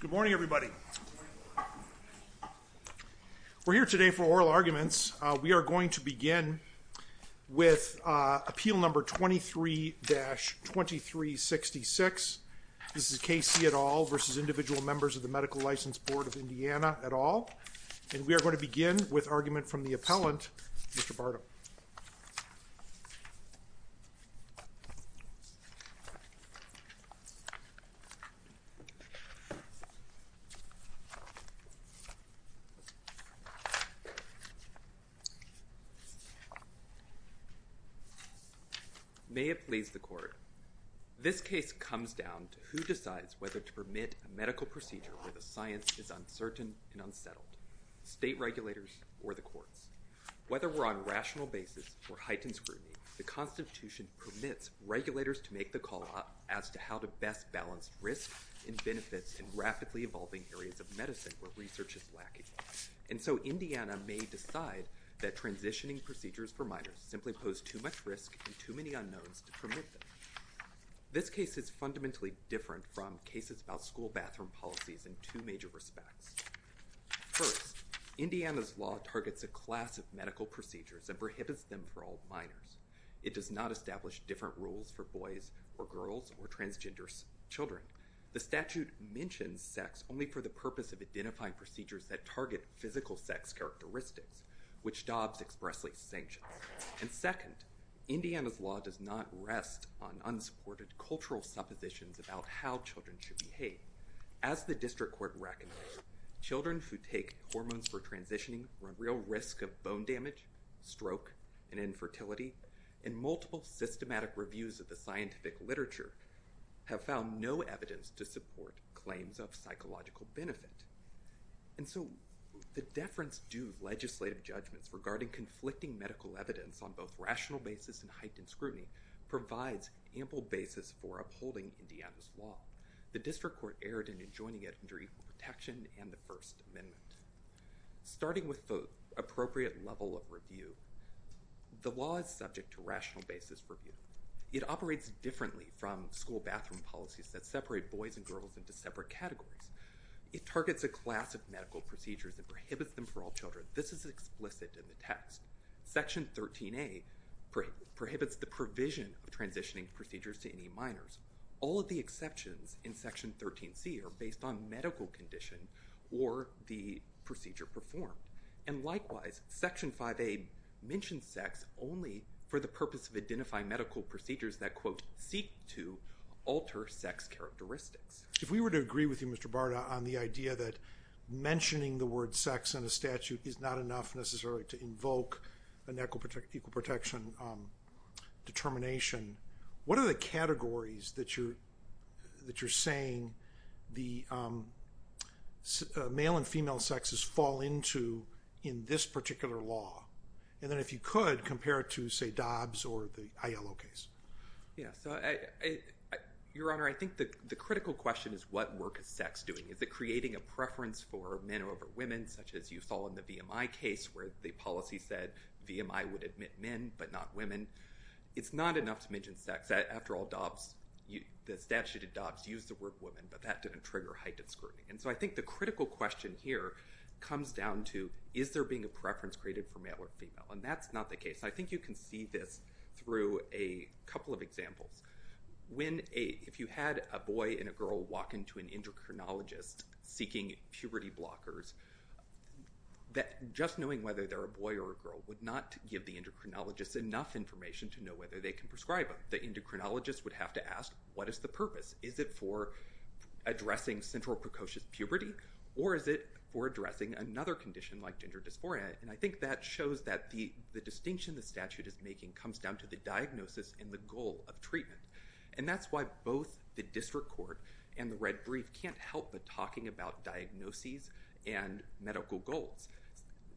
Good morning everybody. We're here today for oral arguments. We are going to begin with appeal number 23-2366. This is K.C. et al. versus Individual Members of the Medical License Board of Indiana et al. and we are going to begin with argument from the appellant, Mr. Bartow. May it please the court. This case comes down to who decides whether to permit a medical procedure where the science is uncertain and unsettled, state regulators or the courts. Whether we're on rational basis or heightened scrutiny, the Constitution permits regulators to make the call as to how to best balance risk and benefits in rapidly evolving areas of medicine where research is lacking. And so Indiana may decide that transitioning procedures for minors simply pose too much risk and too many unknowns to permit them. This case is fundamentally different from cases about school bathroom policies in two major respects. First, Indiana's law targets a class of medical procedures and prohibits them for all minors. It does not establish different rules for boys or girls or transgender children. The statute mentions sex only for the purpose of identifying procedures that target physical sex characteristics which Dobbs expressly sanctions. And second, Indiana's law does not rest on unsupported cultural suppositions about how children should behave. As the children who take hormones for transitioning run real risk of bone damage, stroke, and infertility. And multiple systematic reviews of the scientific literature have found no evidence to support claims of psychological benefit. And so the deference due legislative judgments regarding conflicting medical evidence on both rational basis and heightened scrutiny provides ample basis for upholding Indiana's law. The district court erred in adjoining it under equal protection and the First Amendment. Starting with the appropriate level of review, the law is subject to rational basis review. It operates differently from school bathroom policies that separate boys and girls into separate categories. It targets a class of medical procedures and prohibits them for all children. This is explicit in the text. Section 13A prohibits the provision of transitioning procedures to minors. All of the exceptions in Section 13C are based on medical condition or the procedure performed. And likewise, Section 5A mentions sex only for the purpose of identifying medical procedures that quote seek to alter sex characteristics. If we were to agree with you Mr. Barta on the idea that mentioning the word sex in a statute is not enough necessarily to invoke an amendment, what are the categories that you're saying the male and female sexes fall into in this particular law? And then if you could, compare it to say Dobbs or the ILO case. Yeah, so your honor, I think that the critical question is what work is sex doing? Is it creating a preference for men over women such as you saw in the VMI case where the policy said VMI would admit men but not women? It's not enough to mention sex. After all, the statute of Dobbs used the word women but that didn't trigger heightened scrutiny. And so I think the critical question here comes down to is there being a preference created for male or female? And that's not the case. I think you can see this through a couple of examples. If you had a boy and a girl walk into an endocrinologist seeking puberty blockers, just knowing whether they're a male or female is not enough information to know whether they can prescribe them. The endocrinologist would have to ask what is the purpose? Is it for addressing central precocious puberty or is it for addressing another condition like gender dysphoria? And I think that shows that the the distinction the statute is making comes down to the diagnosis and the goal of treatment. And that's why both the district court and the red brief can't help but talking about diagnoses and medical goals.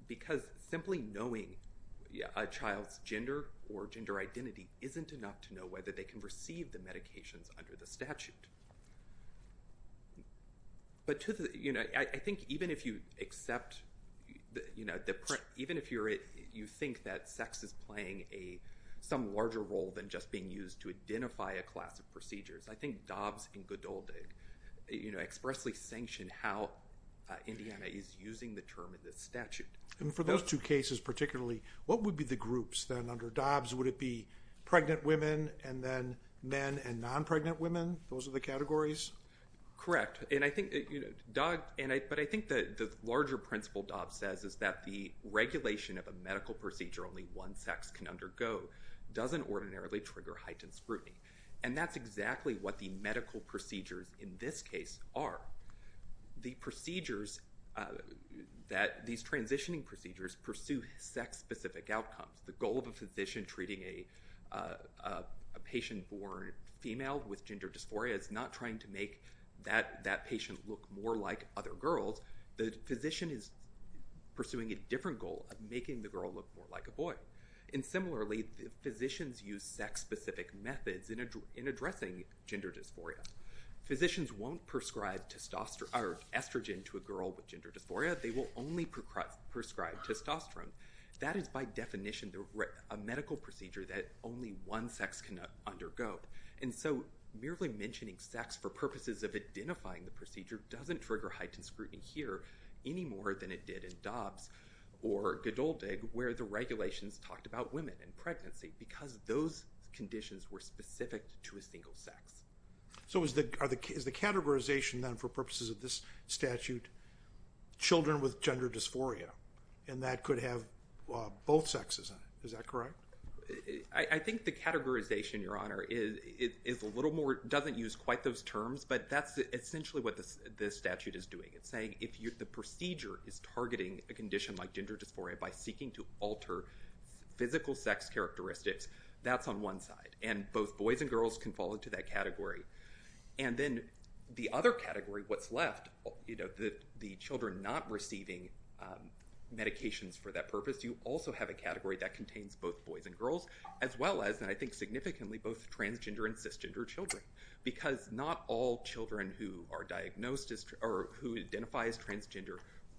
Because simply knowing a child's gender or gender identity isn't enough to know whether they can receive the medications under the statute. But to the, you know, I think even if you accept, you know, even if you're it you think that sex is playing a some larger role than just being used to identify a class of procedures, I think Dobbs and Godoldig you know expressly sanction how Indiana is using the term in this statute. And for those two cases particularly, what would be the groups then under Dobbs? Would it be pregnant women and then men and non-pregnant women? Those are the categories? Correct. And I think, you know, Doug, and I but I think that the larger principle Dobbs says is that the regulation of a medical procedure only one sex can undergo doesn't ordinarily trigger heightened scrutiny. And that's exactly what the medical procedures in this case are. The procedures that these transitioning procedures pursue sex-specific outcomes. The goal of a physician treating a patient born female with gender dysphoria is not trying to make that that patient look more like other girls. The physician is pursuing a different goal of making the girl look more like a boy. And similarly, physicians use sex-specific methods in addressing gender dysphoria. Physicians won't prescribe testosterone or estrogen to a girl with gender dysphoria. They will only prescribe testosterone. That is by definition a medical procedure that only one sex can undergo. And so merely mentioning sex for purposes of identifying the procedure doesn't trigger heightened scrutiny here any more than it did in Dobbs or Godoldig where the regulations talked about women and pregnancy because those conditions were specific to a single sex. So is the categorization then for purposes of this statute children with gender dysphoria and that could have both sexes? Is that correct? I think the categorization, Your Honor, is a little more, doesn't use quite those terms, but that's essentially what this statute is doing. It's saying if the procedure is targeting a condition like gender dysphoria by seeking to alter physical sex characteristics, that's on one side. And both boys and girls are in that category. And then the other category, what's left, you know, the children not receiving medications for that purpose, you also have a category that contains both boys and girls as well as, and I think significantly, both transgender and cisgender children. Because not all children who are diagnosed as, or who identify as transgender,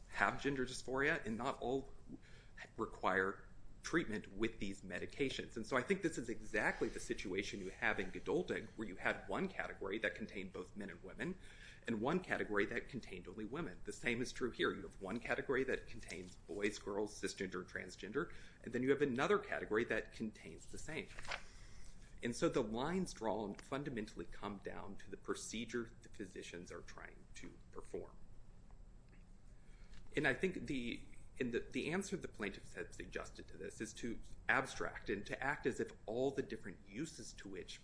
have gender dysphoria and not all require treatment with these medications. And so I think this is exactly the situation you have in Gadolding where you had one category that contained both men and women and one category that contained only women. The same is true here. You have one category that contains boys, girls, cisgender, transgender, and then you have another category that contains the same. And so the lines drawn fundamentally come down to the procedure the physicians are trying to perform. And I think the answer the different uses to which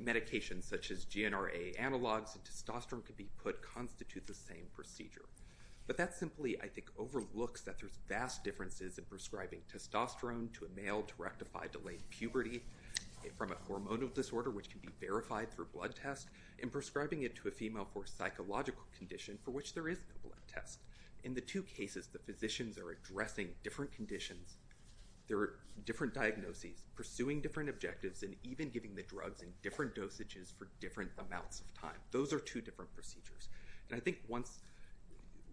medications such as GNRA analogs and testosterone can be put constitute the same procedure. But that simply, I think, overlooks that there's vast differences in prescribing testosterone to a male to rectify delayed puberty from a hormonal disorder which can be verified through blood tests and prescribing it to a female for psychological condition for which there is no blood test. In the two cases the physicians are addressing different conditions. There are different diagnoses, pursuing different objectives, and even giving the drugs in different dosages for different amounts of time. Those are two different procedures. And I think once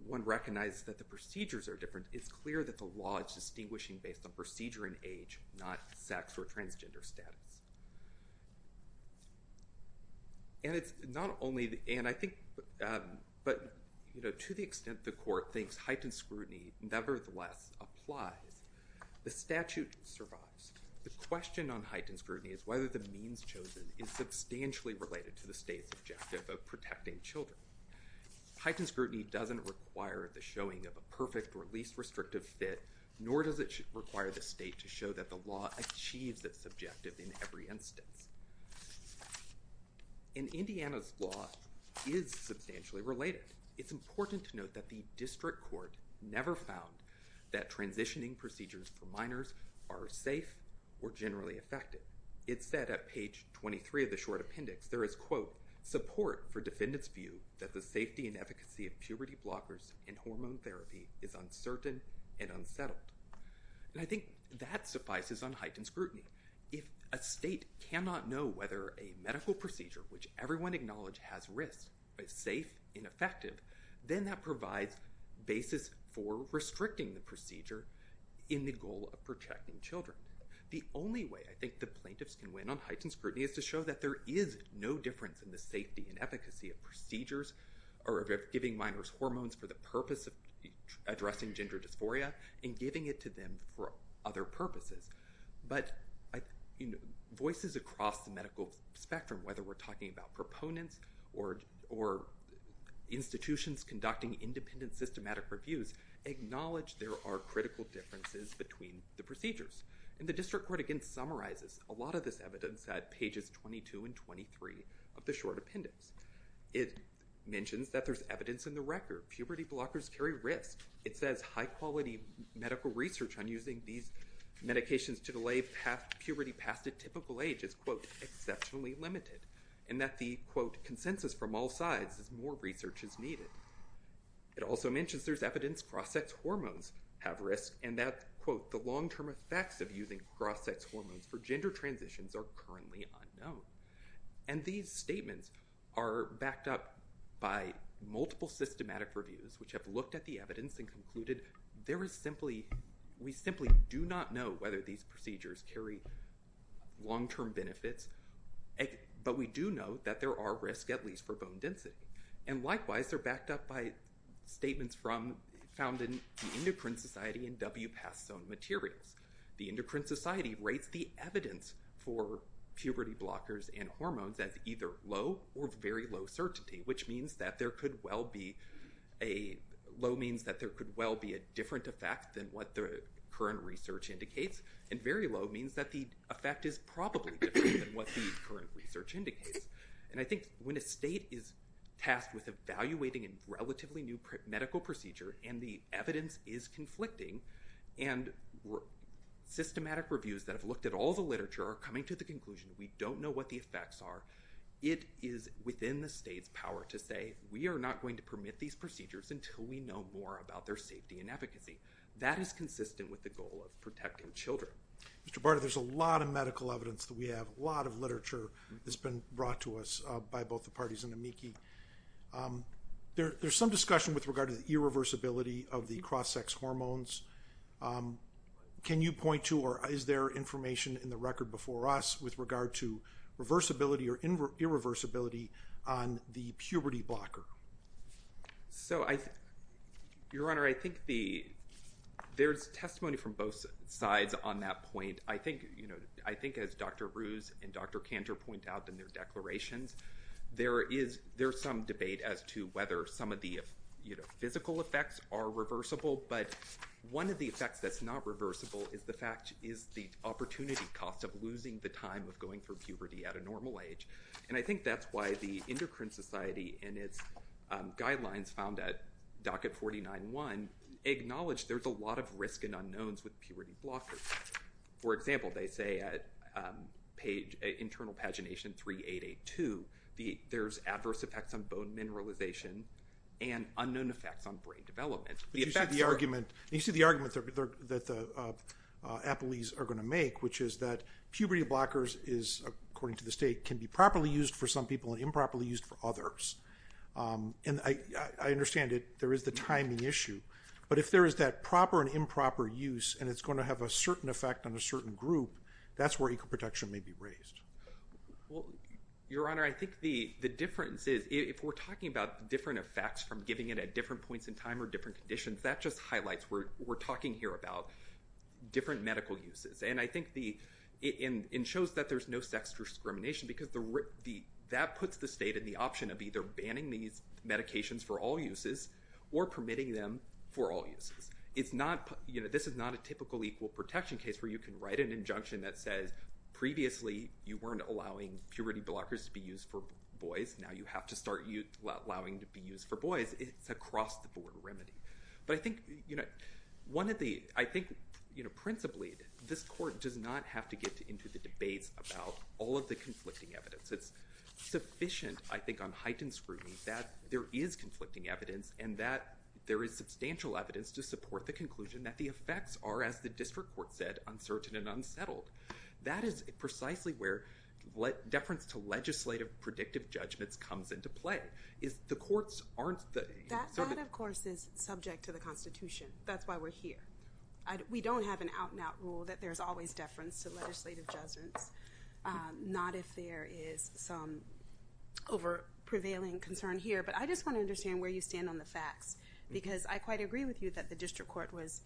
one recognizes that the procedures are different, it's clear that the law is distinguishing based on procedure and age, not sex or transgender status. And it's not only, and I think, but, you know, to the extent the court thinks heightened scrutiny nevertheless applies, the statute survives. The question on heightened scrutiny is whether the means chosen is substantially related to the state's objective of protecting children. Heightened scrutiny doesn't require the showing of a perfect or least restrictive fit, nor does it require the state to show that the law achieves its objective in every instance. In Indiana's law is substantially related. It's important to note that the district court never found that transitioning procedures for minors are safe or generally effective. It said at page 23 of the short appendix there is, quote, support for defendants view that the safety and efficacy of puberty blockers and hormone therapy is uncertain and unsettled. And I think that suffices on heightened scrutiny. If a state cannot know whether a medical procedure, which is a basis for restricting the procedure, in the goal of protecting children. The only way I think the plaintiffs can win on heightened scrutiny is to show that there is no difference in the safety and efficacy of procedures or of giving minors hormones for the purpose of addressing gender dysphoria and giving it to them for other purposes. But, you know, voices across the medical spectrum, whether we're talking about proponents or institutions conducting independent systematic reviews, acknowledge there are critical differences between the procedures. And the district court again summarizes a lot of this evidence at pages 22 and 23 of the short appendix. It mentions that there's evidence in the record. Puberty blockers carry risk. It says high quality medical research on using these medications to delay past puberty past a typical age is, quote, exceptionally limited. And that the, quote, is from all sides as more research is needed. It also mentions there's evidence cross-sex hormones have risk and that, quote, the long-term effects of using cross-sex hormones for gender transitions are currently unknown. And these statements are backed up by multiple systematic reviews which have looked at the evidence and concluded there is simply, we simply do not know whether these procedures carry long-term benefits. But we do know that there are risk at least for bone density. And likewise, they're backed up by statements from, found in the Endocrine Society and WPAS zone materials. The Endocrine Society rates the evidence for puberty blockers and hormones as either low or very low certainty, which means that there could well be a, low means that there could well be a different effect than what the current research indicates. And very low means that the effect is probably different than what the current research indicates. And I think when a state is tasked with evaluating a relatively new medical procedure and the evidence is conflicting and systematic reviews that have looked at all the literature are coming to the conclusion we don't know what the effects are, it is within the state's power to say we are not going to permit these procedures until we know more about their safety and efficacy. That is consistent with the goal of protecting children. Mr. Barda, there's a lot of medical evidence that we have, a lot of literature that's been brought to us by both the parties in AMICI. There's some discussion with regard to the irreversibility of the cross-sex hormones. Can you point to or is there information in the record before us with regard to reversibility or irreversibility on the puberty blocker? Your Honor, I think there's testimony from both sides on that point. I think as Dr. Ruse and Dr. Cantor point out in their declarations, there is some debate as to whether some of the physical effects are reversible. But one of the effects that's not reversible is the fact is the opportunity cost of losing the time of going through puberty at a normal age. I think that's why the Endocrine Society in its guidelines found at docket 49.1 acknowledged there's a lot of risk and unknowns with puberty blockers. For example, they say at internal pagination 3882, there's adverse effects on bone mineralization and unknown effects on brain development. You see the argument that the puberty blockers is, according to the state, can be properly used for some people and improperly used for others. I understand there is the timing issue, but if there is that proper and improper use and it's going to have a certain effect on a certain group, that's where equal protection may be raised. Your Honor, I think the difference is if we're talking about different effects from giving it at different points in time or different conditions, that just highlights we're talking here about different medical uses. I think it shows that there's no sex discrimination because that puts the state in the option of either banning these medications for all uses or permitting them for all uses. This is not a typical equal protection case where you can write an injunction that says previously you weren't allowing puberty blockers to be used for boys, now you have to start allowing to be used for boys. It's a cross-the-board remedy. I think principally this court does not have to get into the debates about all of the conflicting evidence. It's sufficient, I think, on heightened scrutiny that there is conflicting evidence and that there is substantial evidence to support the conclusion that the effects are, as the district court said, uncertain and unsettled. That is precisely where deference to legislative predictive judgments comes into play, is the courts aren't they? That, of course, is subject to the Constitution. That's why we're here. We don't have an out-and-out rule that there's always deference to legislative judgments, not if there is some over-prevailing concern here, but I just want to understand where you stand on the facts because I quite agree with you that the district court was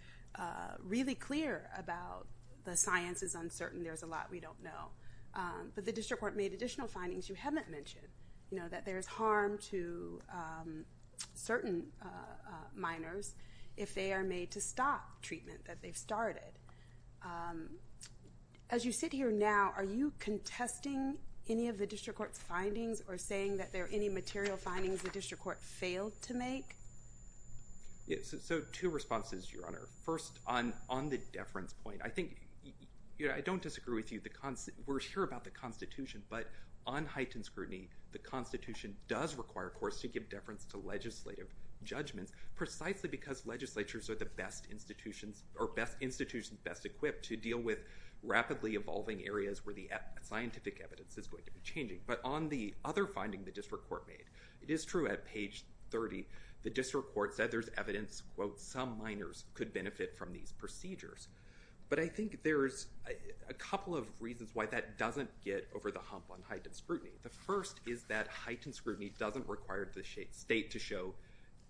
really clear about the science is uncertain, there's a lot we don't know, but the district court made additional findings you haven't mentioned, you know, that there's harm to certain minors if they are made to stop treatment that they've started. As you sit here now, are you contesting any of the district court's findings or saying that there are any material findings the district court failed to make? Yes, so two responses, Your Honor. First, on the deference point, I think, you know, I don't disagree with you. We're sure about the Constitution, but on heightened scrutiny, the Constitution does require courts to give deference to legislative judgments precisely because legislatures are the best institutions or best institutions best equipped to deal with rapidly evolving areas where the scientific evidence is going to be changing, but on the other finding the district court made, it is true at page 30 the district court said there's evidence, quote, some minors could benefit from these procedures, but I think there's a couple of reasons why that doesn't get over the hump on heightened scrutiny. The first is that heightened scrutiny doesn't require the state to show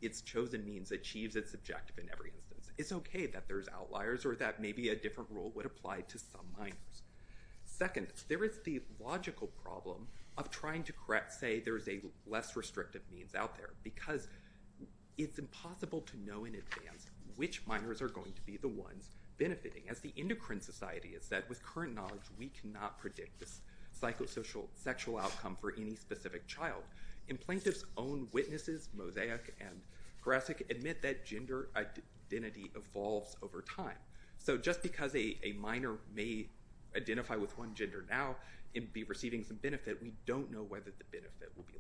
its chosen means achieves its objective in every instance. It's okay that there's outliers or that maybe a different rule would apply to some minors. Second, there is the logical problem of trying to correct, say, there's a less restrictive means out there because it's impossible to know in advance which minors are going to be the ones benefiting. As the Endocrine Society has said, with current knowledge we cannot predict this psychosocial sexual outcome for any specific child. Implaintive's own witnesses, Mosaic and Grasick, admit that gender identity evolves over time. So just because a minor may identify with one gender now and be receiving some benefit, we don't know whether the benefit will be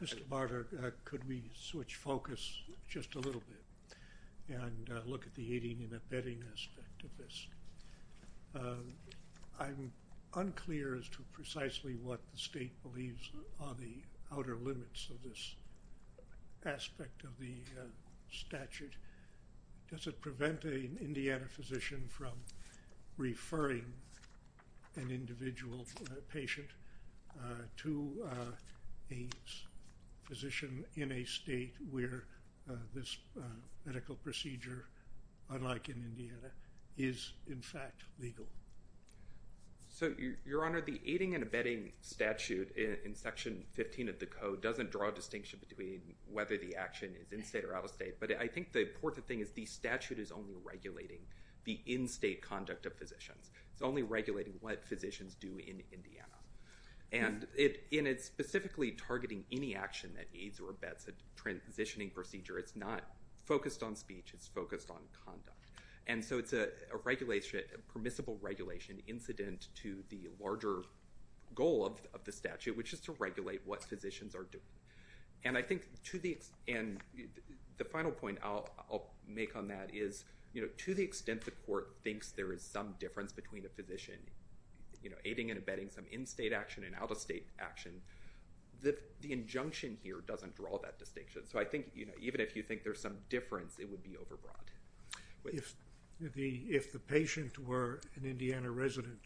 long-term. Mr. Barter, could we switch focus just a little bit and look at the mediating and abetting aspect of this? I'm unclear as to precisely what the state believes on the outer limits of this aspect of the statute. Does it prevent an Indiana physician from referring an individual patient to a physician in a medical procedure, unlike in Indiana, is in fact legal? So, Your Honor, the aiding and abetting statute in section 15 of the code doesn't draw a distinction between whether the action is in-state or out-of-state, but I think the important thing is the statute is only regulating the in-state conduct of physicians. It's only regulating what physicians do in Indiana. And in specifically targeting any action that aids or abets a transitioning procedure, it's not focused on speech, it's focused on conduct. And so it's a permissible regulation incident to the larger goal of the statute, which is to regulate what physicians are doing. And I think to the end, the final point I'll make on that is, to the extent the court thinks there is some difference between a physician aiding and abetting some in-state action and out-of-state action, the injunction here doesn't draw that distinction. So I think, you know, even if you think there's some difference, it would be over-broad. If the patient were an Indiana resident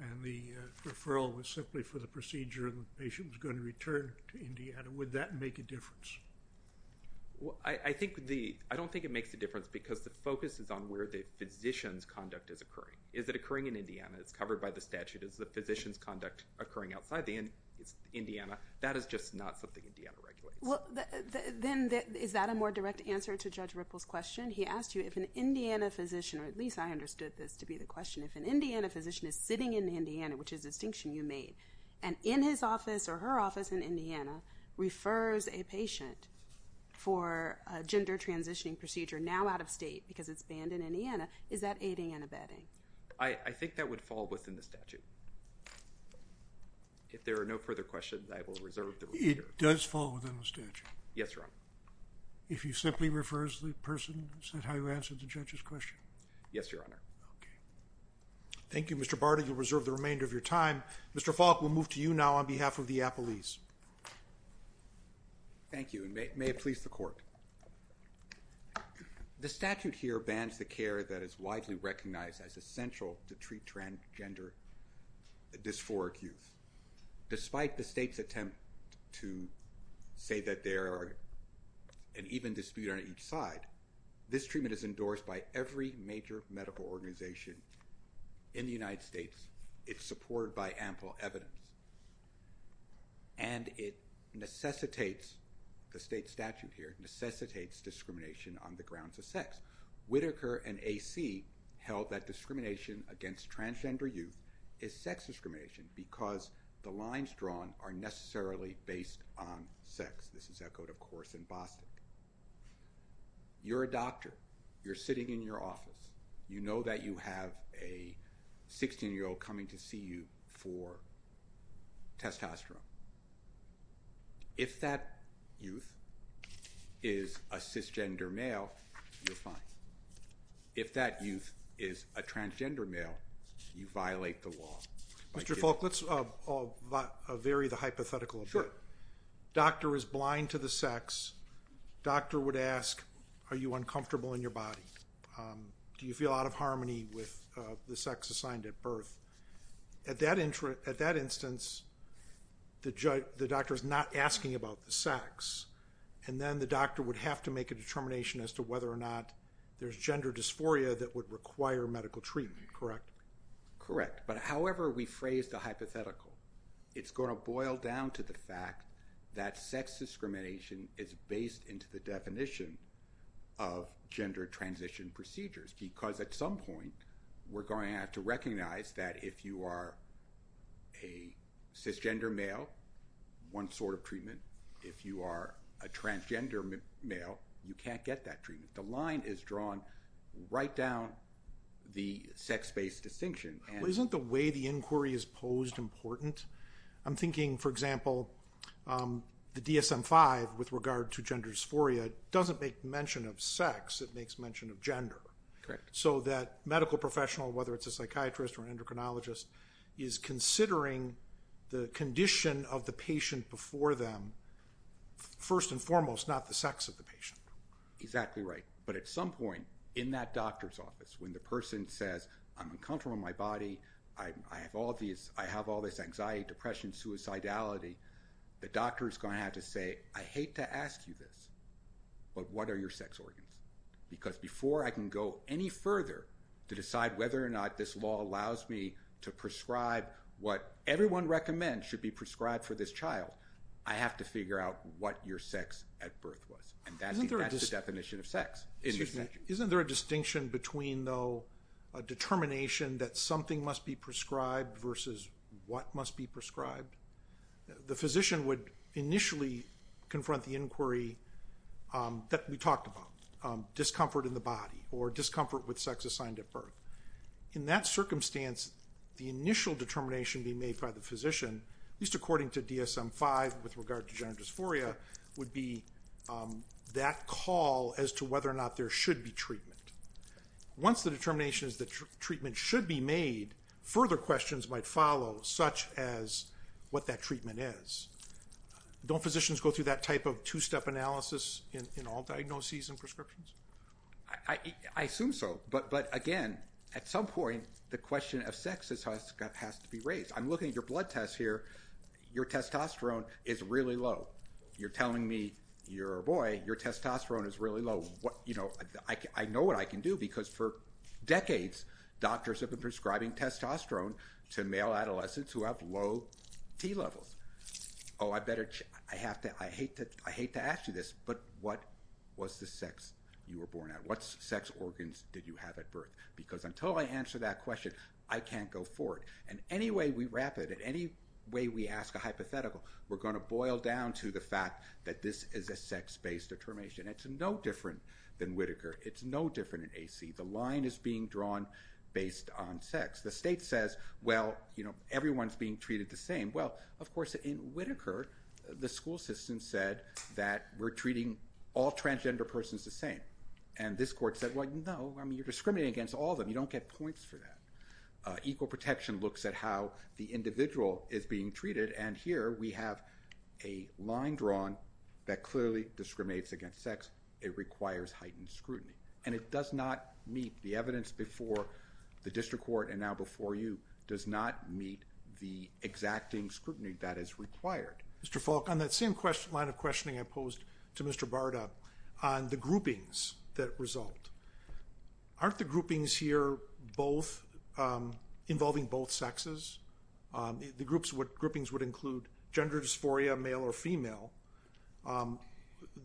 and the referral was simply for the procedure and the patient was going to return to Indiana, would that make a difference? Well, I don't think it makes a difference because the focus is on where the physician's conduct is occurring. Is it occurring in Indiana? It's covered by the statute. Is the physician's conduct occurring outside the Indiana? That is just not something Indiana regulates. Well, then is that a more direct answer to Judge Ripple's question? He asked you if an Indiana physician, or at least I understood this to be the question, if an Indiana physician is sitting in Indiana, which is a distinction you made, and in his office or her office in Indiana refers a patient for a gender transitioning procedure now out of state because it's banned in Indiana, is that aiding and abetting? I think that would fall within the statute. If there are no further questions, I will reserve the time. It does fall within the statute? Yes, Your Honor. If he simply refers the person, is that how you answer the judge's question? Yes, Your Honor. Okay. Thank you, Mr. Barty. You'll reserve the remainder of your time. Mr. Falk, we'll move to you now on behalf of the appellees. Thank you, and may it please the court. The statute here bans the care that is widely recognized as essential to treat transgender dysphoric youth. Despite the state's attempt to say that there are an even dispute on each side, this treatment is endorsed by every major medical organization in the United States. It's supported by ample evidence, and it necessitates, the state statute here, necessitates discrimination on the grounds of sex. Whitaker and AC held that discrimination against transgender youth is sex discrimination because the lines drawn are necessarily based on sex. This is echoed, of course, in Boston. You're a doctor. You're sitting in your office. You know that you have a 16-year-old coming to see you for testosterone. If that youth is a cisgender male, you're fine. If that youth is a transgender male, you are fine. Mr. Falk, let's vary the hypothetical. Sure. Doctor is blind to the sex. Doctor would ask, are you uncomfortable in your body? Do you feel out of harmony with the sex assigned at birth? At that instance, the doctor is not asking about the sex, and then the doctor would have to make a determination as to whether or not there's gender dysphoria that would require medical treatment, correct? Correct, but however we phrase the hypothetical, it's going to boil down to the fact that sex discrimination is based into the definition of gender transition procedures, because at some point, we're going to have to recognize that if you are a cisgender male, one sort of treatment. If you are a transgender male, you can't get that treatment. The line is drawn right down the sex-based distinction. Isn't the way the inquiry is posed important? I'm thinking, for example, the DSM-5, with regard to gender dysphoria, doesn't make mention of sex. It makes mention of gender, so that medical professional, whether it's a psychiatrist or an endocrinologist, is considering the condition of the patient before them, first and foremost, not the sex of the person. When the person says, I'm uncomfortable in my body, I have all this anxiety, depression, suicidality, the doctor is going to have to say, I hate to ask you this, but what are your sex organs? Because before I can go any further to decide whether or not this law allows me to prescribe what everyone recommends should be prescribed for this child, I have to figure out what your sex at birth was, and that's the definition of sex. Isn't there a distinction between, though, a determination that something must be prescribed versus what must be prescribed? The physician would initially confront the inquiry that we talked about, discomfort in the body or discomfort with sex assigned at birth. In that circumstance, the initial determination being made by the physician, at least according to DSM-5 with regard to gender dysphoria, would be that call as to whether or not there should be treatment. Once the determination is that treatment should be made, further questions might follow, such as what that treatment is. Don't physicians go through that type of two-step analysis in all diagnoses and prescriptions? I assume so, but again, at some point, the question of sex has to be raised. I'm looking at your blood test here. Your testosterone is really low. You're telling me, boy, your testosterone is really low. I know what I can do, because for decades, doctors have been prescribing testosterone to male adolescents who have low T levels. I hate to ask you this, but what was the sex you were born at? What sex organs did you have at birth? Because until I answer that question, I can't go forward, and any way we wrap it, that this is a sex-based determination. It's no different than Whitaker. It's no different in AC. The line is being drawn based on sex. The state says, well, everyone's being treated the same. Well, of course, in Whitaker, the school system said that we're treating all transgender persons the same. And this court said, well, no, I mean, you're discriminating against all of them. You don't get points for that. Equal protection looks at how the individual is being treated, and here we have a line drawn that clearly discriminates against sex. It requires heightened scrutiny. And it does not meet the evidence before the district court, and now before you, does not meet the exacting scrutiny that is required. Mr. Falk, on that same line of questioning I posed to Mr. Barta, on the groupings that result, aren't the groupings here involving both sexes? The groupings would include gender dysphoria, male or female.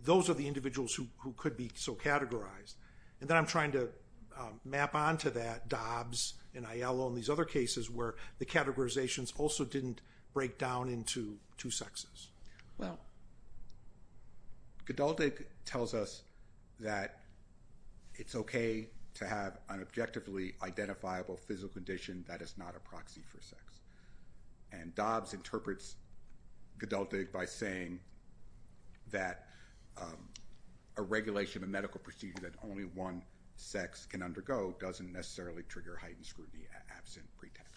Those are the individuals who could be so categorized. And then I'm trying to map onto that Dobbs and Aiello and these other cases where the categorizations also didn't break down into two sexes. Well, Gadaldic tells us that it's okay to have an objectively identifiable physical condition that is not a proxy for sex. And Dobbs interprets Gadaldic by saying that a regulation of a medical procedure that only one sex can undergo doesn't necessarily trigger heightened scrutiny absent pretext.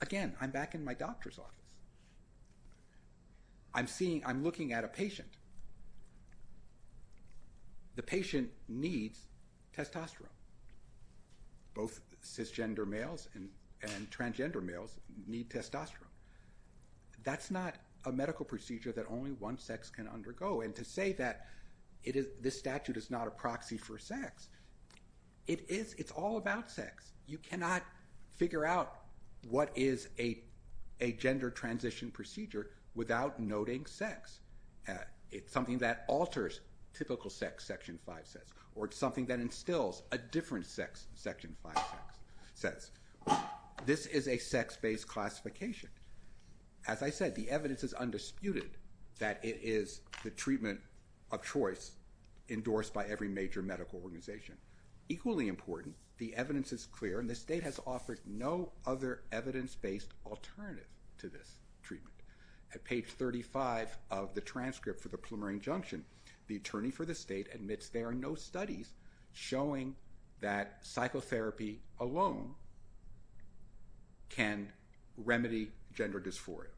Again, I'm back in my doctor's office. I'm looking at a patient. The patient needs testosterone. Both cisgender males and transgender males need testosterone. That's not a medical procedure that only one sex can undergo. And to say that this statute is not a proxy for sex, it is. It's all about sex. You cannot figure out what is a gender transition procedure without noting sex. It's something that alters typical sex, Section 5 says, or it's something that instills a different sex, Section 5 says. This is a sex-based classification. As I said, the evidence is undisputed that it is the treatment of choice endorsed by every major medical organization. Equally important, the evidence is clear and the state has offered no other evidence-based alternative to this treatment. At page 35 of the transcript for the Plummer injunction, the attorney for the state admits there are no studies showing that psychotherapy alone can remedy gender dysphoria.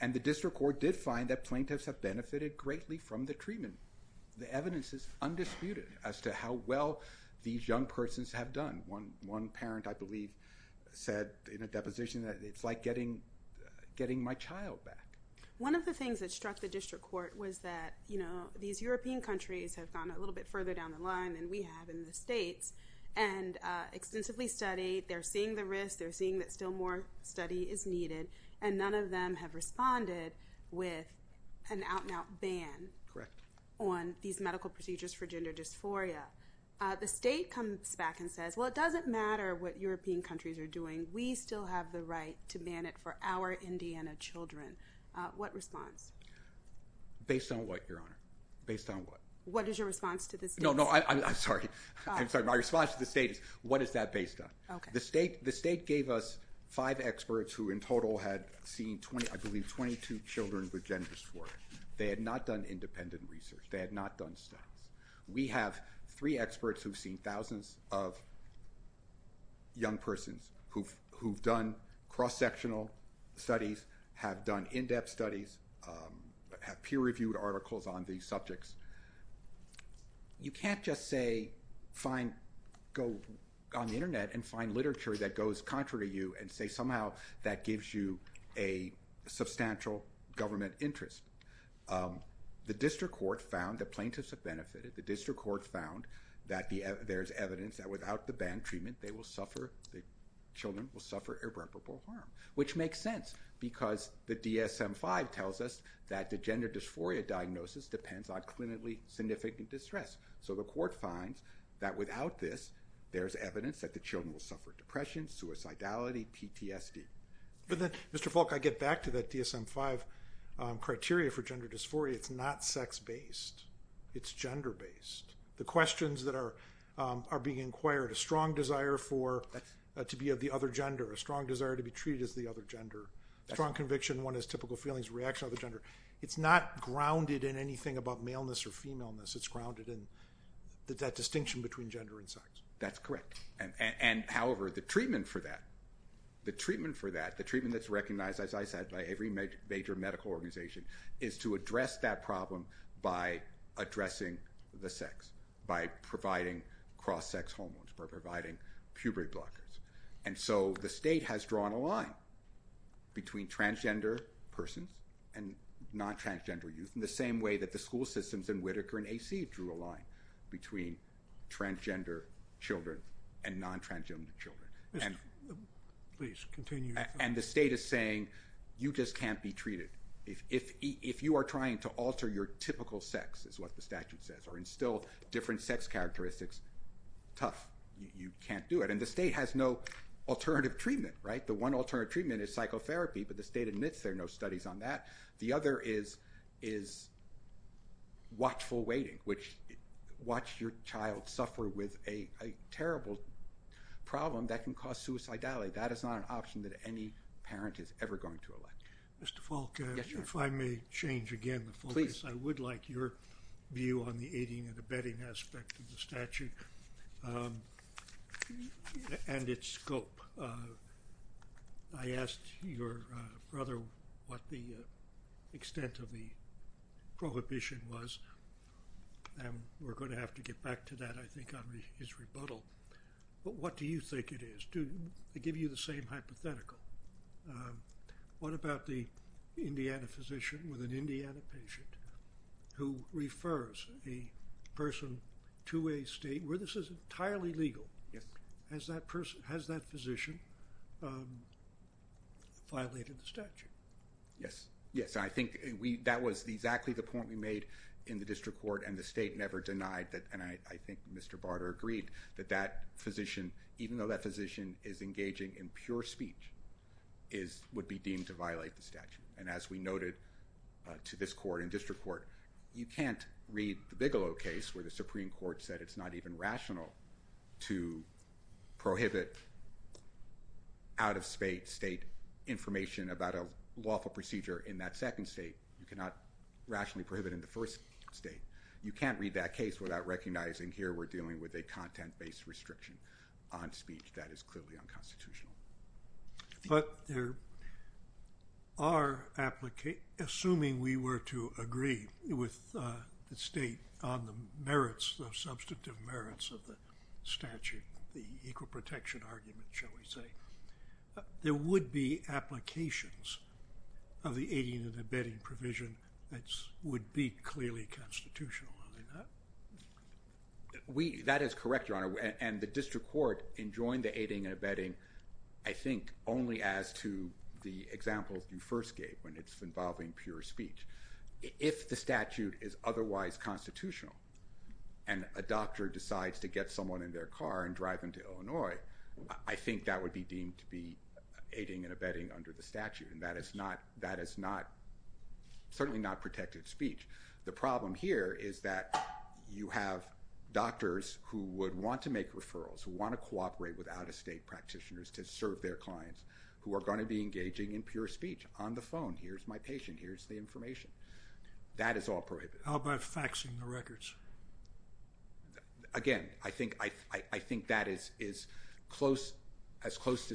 And the district court did find that plaintiffs have benefited greatly from the treatment. The evidence is undisputed as to how well these young persons have done. One parent, I believe, said in a deposition that it's like getting my child back. One of the things that struck the district court was that, you know, these European countries have gone a little bit further down the line than we have in the states and extensively studied. They're seeing the risks, they're seeing that still more study is needed, and none of them have responded with an out-and-out ban on these medical procedures for gender dysphoria. The state comes back and says, well, it doesn't matter what European countries are doing. We still have the right to ban it for our Indiana children. What response? Based on what, Your Honor? Based on what? What is your response to this? No, no, I'm sorry. I'm sorry. My response to the state is, what is that based on? Okay. The state gave us five experts who in total had seen 20, I believe, 22 children with gender dysphoria. They had not done independent research. They had not done studies. We have three experts who've seen thousands of young persons who've done cross-sectional studies, have done in-depth studies, have peer-reviewed articles on these subjects. You can't just say, go on the internet and find literature that goes contrary to you and say somehow that gives you a substantial government interest. The district court found that plaintiffs have benefited. The district court found that there's evidence that without the ban treatment, the children will suffer irreparable harm, which makes sense because the DSM-5 tells us that the gender dysphoria diagnosis depends on clinically significant distress. So the court finds that without this, there's evidence that the children will suffer depression, suicidality, PTSD. But then, Mr. Falk, I get back to that DSM-5 criteria for gender dysphoria. It's not sex-based. It's gender-based. The questions that are being inquired, a strong desire to be of the other gender, a strong desire to be treated as the other gender, a strong conviction one has typical feelings, reaction of the gender, it's not grounded in anything about maleness or femaleness. It's grounded in that distinction between gender and sex. That's correct. However, the treatment for that, the treatment that's recognized, as I said, by every major medical organization is to address that problem by addressing the sex, by providing cross-sex hormones, by providing puberty blockers. And so the state has drawn a line between transgender persons and non-transgender youth in the same way that the school systems in Whitaker and AC drew a line between transgender children and non-transgender children. And the state is saying you just can't be your typical sex, is what the statute says, or instill different sex characteristics. Tough. You can't do it. And the state has no alternative treatment, right? The one alternative treatment is psychotherapy, but the state admits there are no studies on that. The other is watchful waiting, which watch your child suffer with a terrible problem that can cause suicidality. That is not an option that any parent is ever going to elect. Mr. Falk, if I may change again the focus, I would like your view on the aiding and abetting aspect of the statute and its scope. I asked your brother what the extent of the prohibition was, and we're going to have to get back to that, I think, on his rebuttal. But what do you think it is? Do they give you the same hypothetical? What about the Indiana physician with an Indiana patient who refers a person to a state where this is entirely legal? Has that person, has that physician violated the statute? Yes, yes. I think we, that was exactly the point we made in the district court, and the state never denied that. And I think Mr. Barter agreed that that physician, even though that physician is engaging in pure speech, would be deemed to violate the statute. And as we noted to this court and district court, you can't read the Bigelow case where the Supreme Court said it's not even rational to prohibit out-of-state information about a lawful procedure in that second state. You cannot rationally prohibit in the first state. You can't read that case without recognizing here we're dealing with a content-based restriction on speech that is clearly unconstitutional. But there are, assuming we were to agree with the state on the merits, the substantive merits of the statute, the equal protection argument, shall we say, there would be applications of the aiding and abetting provision that would be clearly constitutional. That is correct, Your Honor, and the district court enjoined the aiding and abetting, I think, only as to the examples you first gave when it's involving pure speech. If the statute is otherwise constitutional and a doctor decides to get someone in their car and drive them to Illinois, I think that would be deemed to be aiding and abetting under the statute, and that is certainly not protected speech. The problem here is that you have doctors who would want to make referrals, who want to cooperate with out-of-state practitioners to serve their clients, who are going to be engaging in pure speech on the phone. Here's my patient. Here's the information. That is all prohibited. How about faxing the records? Again, I think that is as close to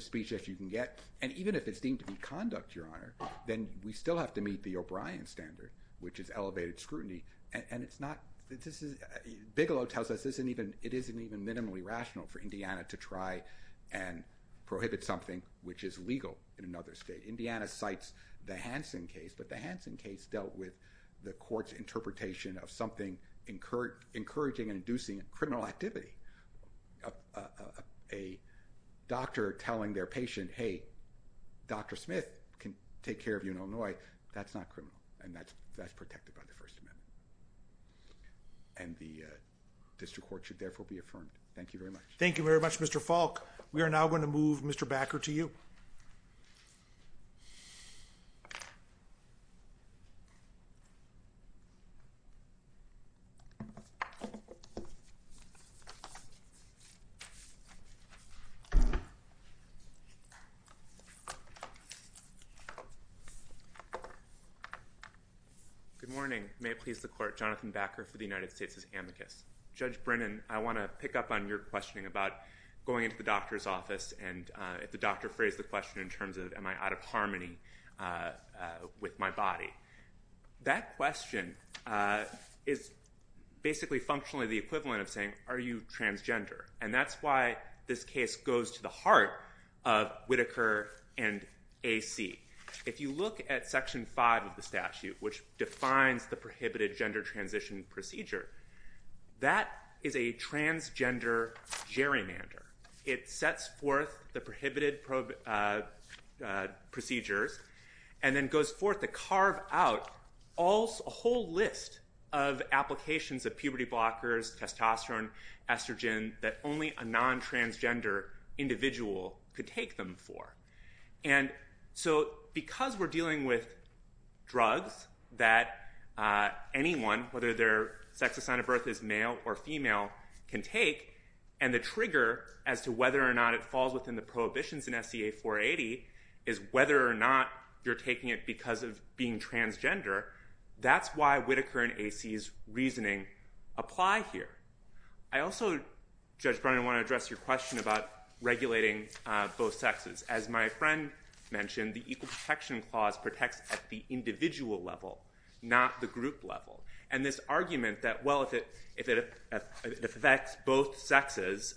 conduct, Your Honor, then we still have to meet the O'Brien standard, which is elevated scrutiny, and Bigelow tells us it isn't even minimally rational for Indiana to try and prohibit something which is legal in another state. Indiana cites the Hansen case, but the Hansen case dealt with the court's interpretation of something encouraging and inducing criminal activity. A doctor telling their patient, hey, Dr. Smith can take care of you in Illinois, that's not criminal, and that's that's protected by the First Amendment, and the district court should therefore be affirmed. Thank you very much. Thank you very much, Mr. Falk. We are now going to move Mr. Brennan. Good morning. May it please the court, Jonathan Backer for the United States' Amicus. Judge Brennan, I want to pick up on your questioning about going into the doctor's office and if the doctor phrased the question in terms of, am I out of harmony with my body? That question is basically functionally the equivalent of saying, are you transgender? And that's why this case goes to the heart of Whitaker and AC. If you look at Section 5 of the statute, which defines the prohibited gender transition procedure, that is a transgender gerrymander. It sets forth the prohibited procedures and then goes forth to carve out a whole list of applications of puberty blockers, testosterone, estrogen, that only a non-transgender individual could take them for. And so because we're dealing with drugs that anyone, whether their sex assigned at birth is male or female, can take, and the trigger as to whether or not it falls within the prohibitions in SCA 480 is whether or not you're taking it because of being transgender, that's why Whitaker and AC's reasoning apply here. I also, Judge Brennan, want to address your question about regulating both sexes. As my friend mentioned, the Equal Protection Clause protects at the individual level, not the group level. And this argument that, well, if it affects both sexes,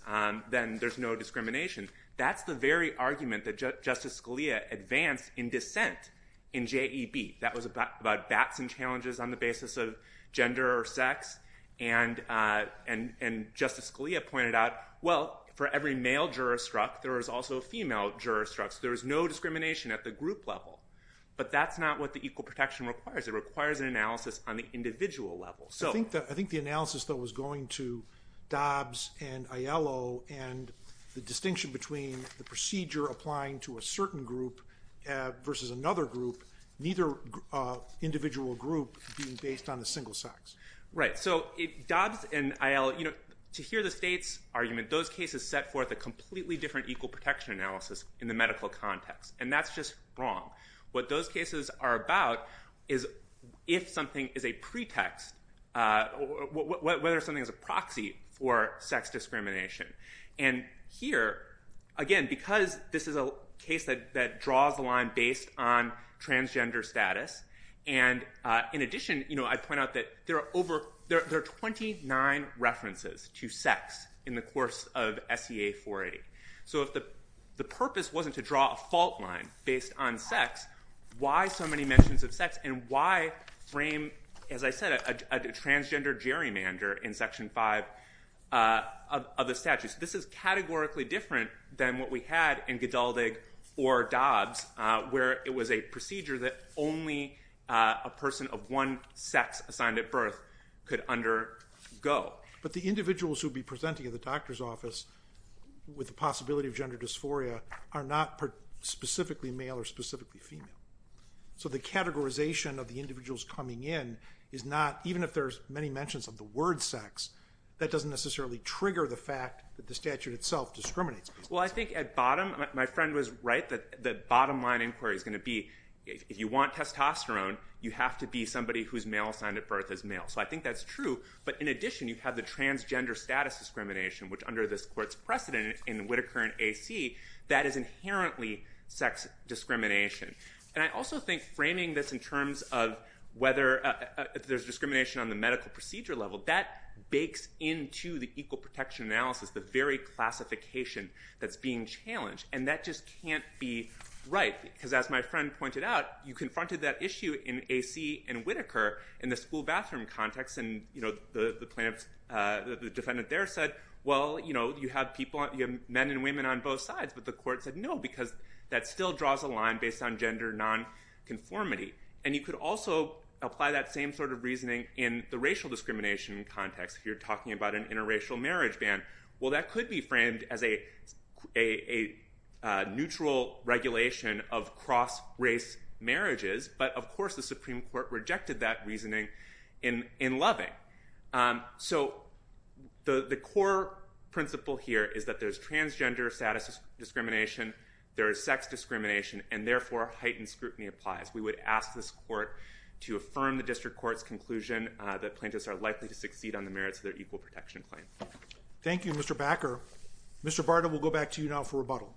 then there's no discrimination, that's the very thing that Justice Scalia advanced in dissent in JEB. That was about bats and challenges on the basis of gender or sex. And Justice Scalia pointed out, well, for every male juristruct, there is also a female juristruct, so there is no discrimination at the group level. But that's not what the Equal Protection requires. It requires an analysis on the individual level. So I think the analysis that was going to Dobbs and Aiello and the distinction between the certain group versus another group, neither individual group being based on a single sex. Right. So Dobbs and Aiello, to hear the state's argument, those cases set forth a completely different equal protection analysis in the medical context. And that's just wrong. What those cases are about is if something is a pretext, whether something is a proxy for sex discrimination. And here, again, because this is a case that draws the line based on transgender status. And in addition, I point out that there are 29 references to sex in the course of SEA 480. So if the purpose wasn't to draw a fault line based on sex, why so many mentions of sex? And why frame, as I said, a transgender gerrymander in Section 5 of the statutes? This is categorically different than what we had in Gedaldig or Dobbs, where it was a procedure that only a person of one sex assigned at birth could undergo. But the individuals who'd be presenting at the doctor's office with the possibility of gender dysphoria are not specifically male or specifically female. So the categorization of the individuals coming in is not, even if there's many different sex, that doesn't necessarily trigger the fact that the statute itself discriminates. Well, I think at bottom, my friend was right that the bottom line inquiry is going to be if you want testosterone, you have to be somebody who's male assigned at birth as male. So I think that's true. But in addition, you have the transgender status discrimination, which under this court's precedent in Whittaker and AC, that is inherently sex discrimination. And I also think framing this in terms of whether there's discrimination on the medical procedure level, that bakes into the equal protection analysis, the very classification that's being challenged. And that just can't be right, because as my friend pointed out, you confronted that issue in AC and Whittaker in the school bathroom context. And the defendant there said, well, you have men and women on both sides. But the court said no, because that still draws a line based on gender nonconformity. And you could also apply that same sort of reasoning in the racial discrimination context, if you're talking about an interracial marriage ban. Well, that could be framed as a neutral regulation of cross-race marriages. But of course, the Supreme Court rejected that reasoning in Loving. So the core principle here is that there's transgender status discrimination, there is sex discrimination, and therefore, heightened scrutiny applies. We would ask this court to affirm the district court's conclusion that plaintiffs are likely to succeed on the merits of their equal protection claim. Thank you, Mr. Bakker. Mr. Barta, we'll go back to you now for rebuttal.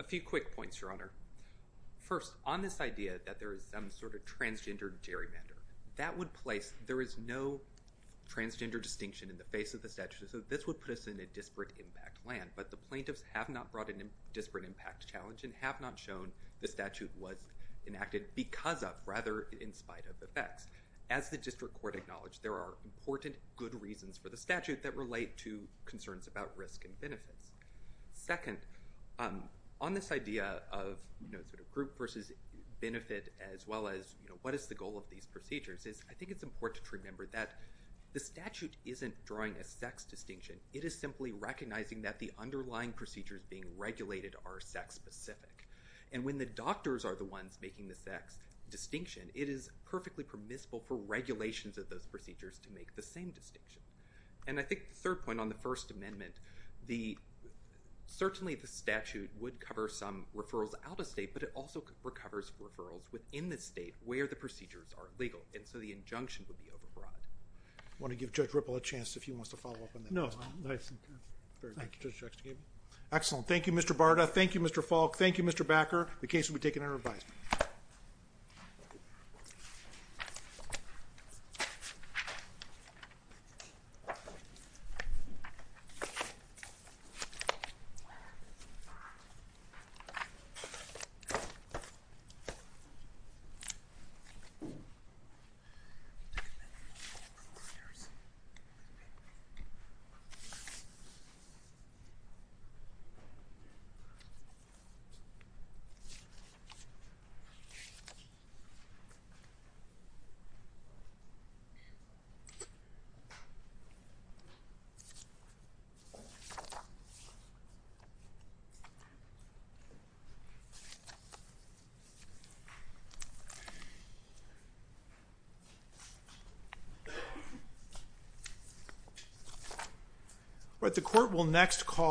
A few quick points, Your Honor. First, on this idea that there is some sort of transgender gerrymander, that would place there is no transgender distinction in the face of the statute. So this would put us in a disparate impact land. But the plaintiffs have not brought in a disparate impact challenge and have not shown the statute was enacted because of, rather in spite of, effects. As the district court acknowledged, there are important good reasons for the statute that relate to concerns about risk and benefits. Second, on this idea of group versus benefit, as well as what is the goal of these procedures, it is simply recognizing that the underlying procedures being regulated are sex-specific. And when the doctors are the ones making the sex distinction, it is perfectly permissible for regulations of those procedures to make the same distinction. And I think the third point on the First Amendment, certainly the statute would cover some referrals out of state, but it also covers referrals within the state where the procedures are legal. And so the injunction would be over-broad. I want to give Judge Ripple a chance if he wants to follow up on that. No. Excellent. Thank you, Mr. Barta. Thank you, Mr. Falk. Thank you, Mr. Backer. The case will be taken under advisement. The court will next call...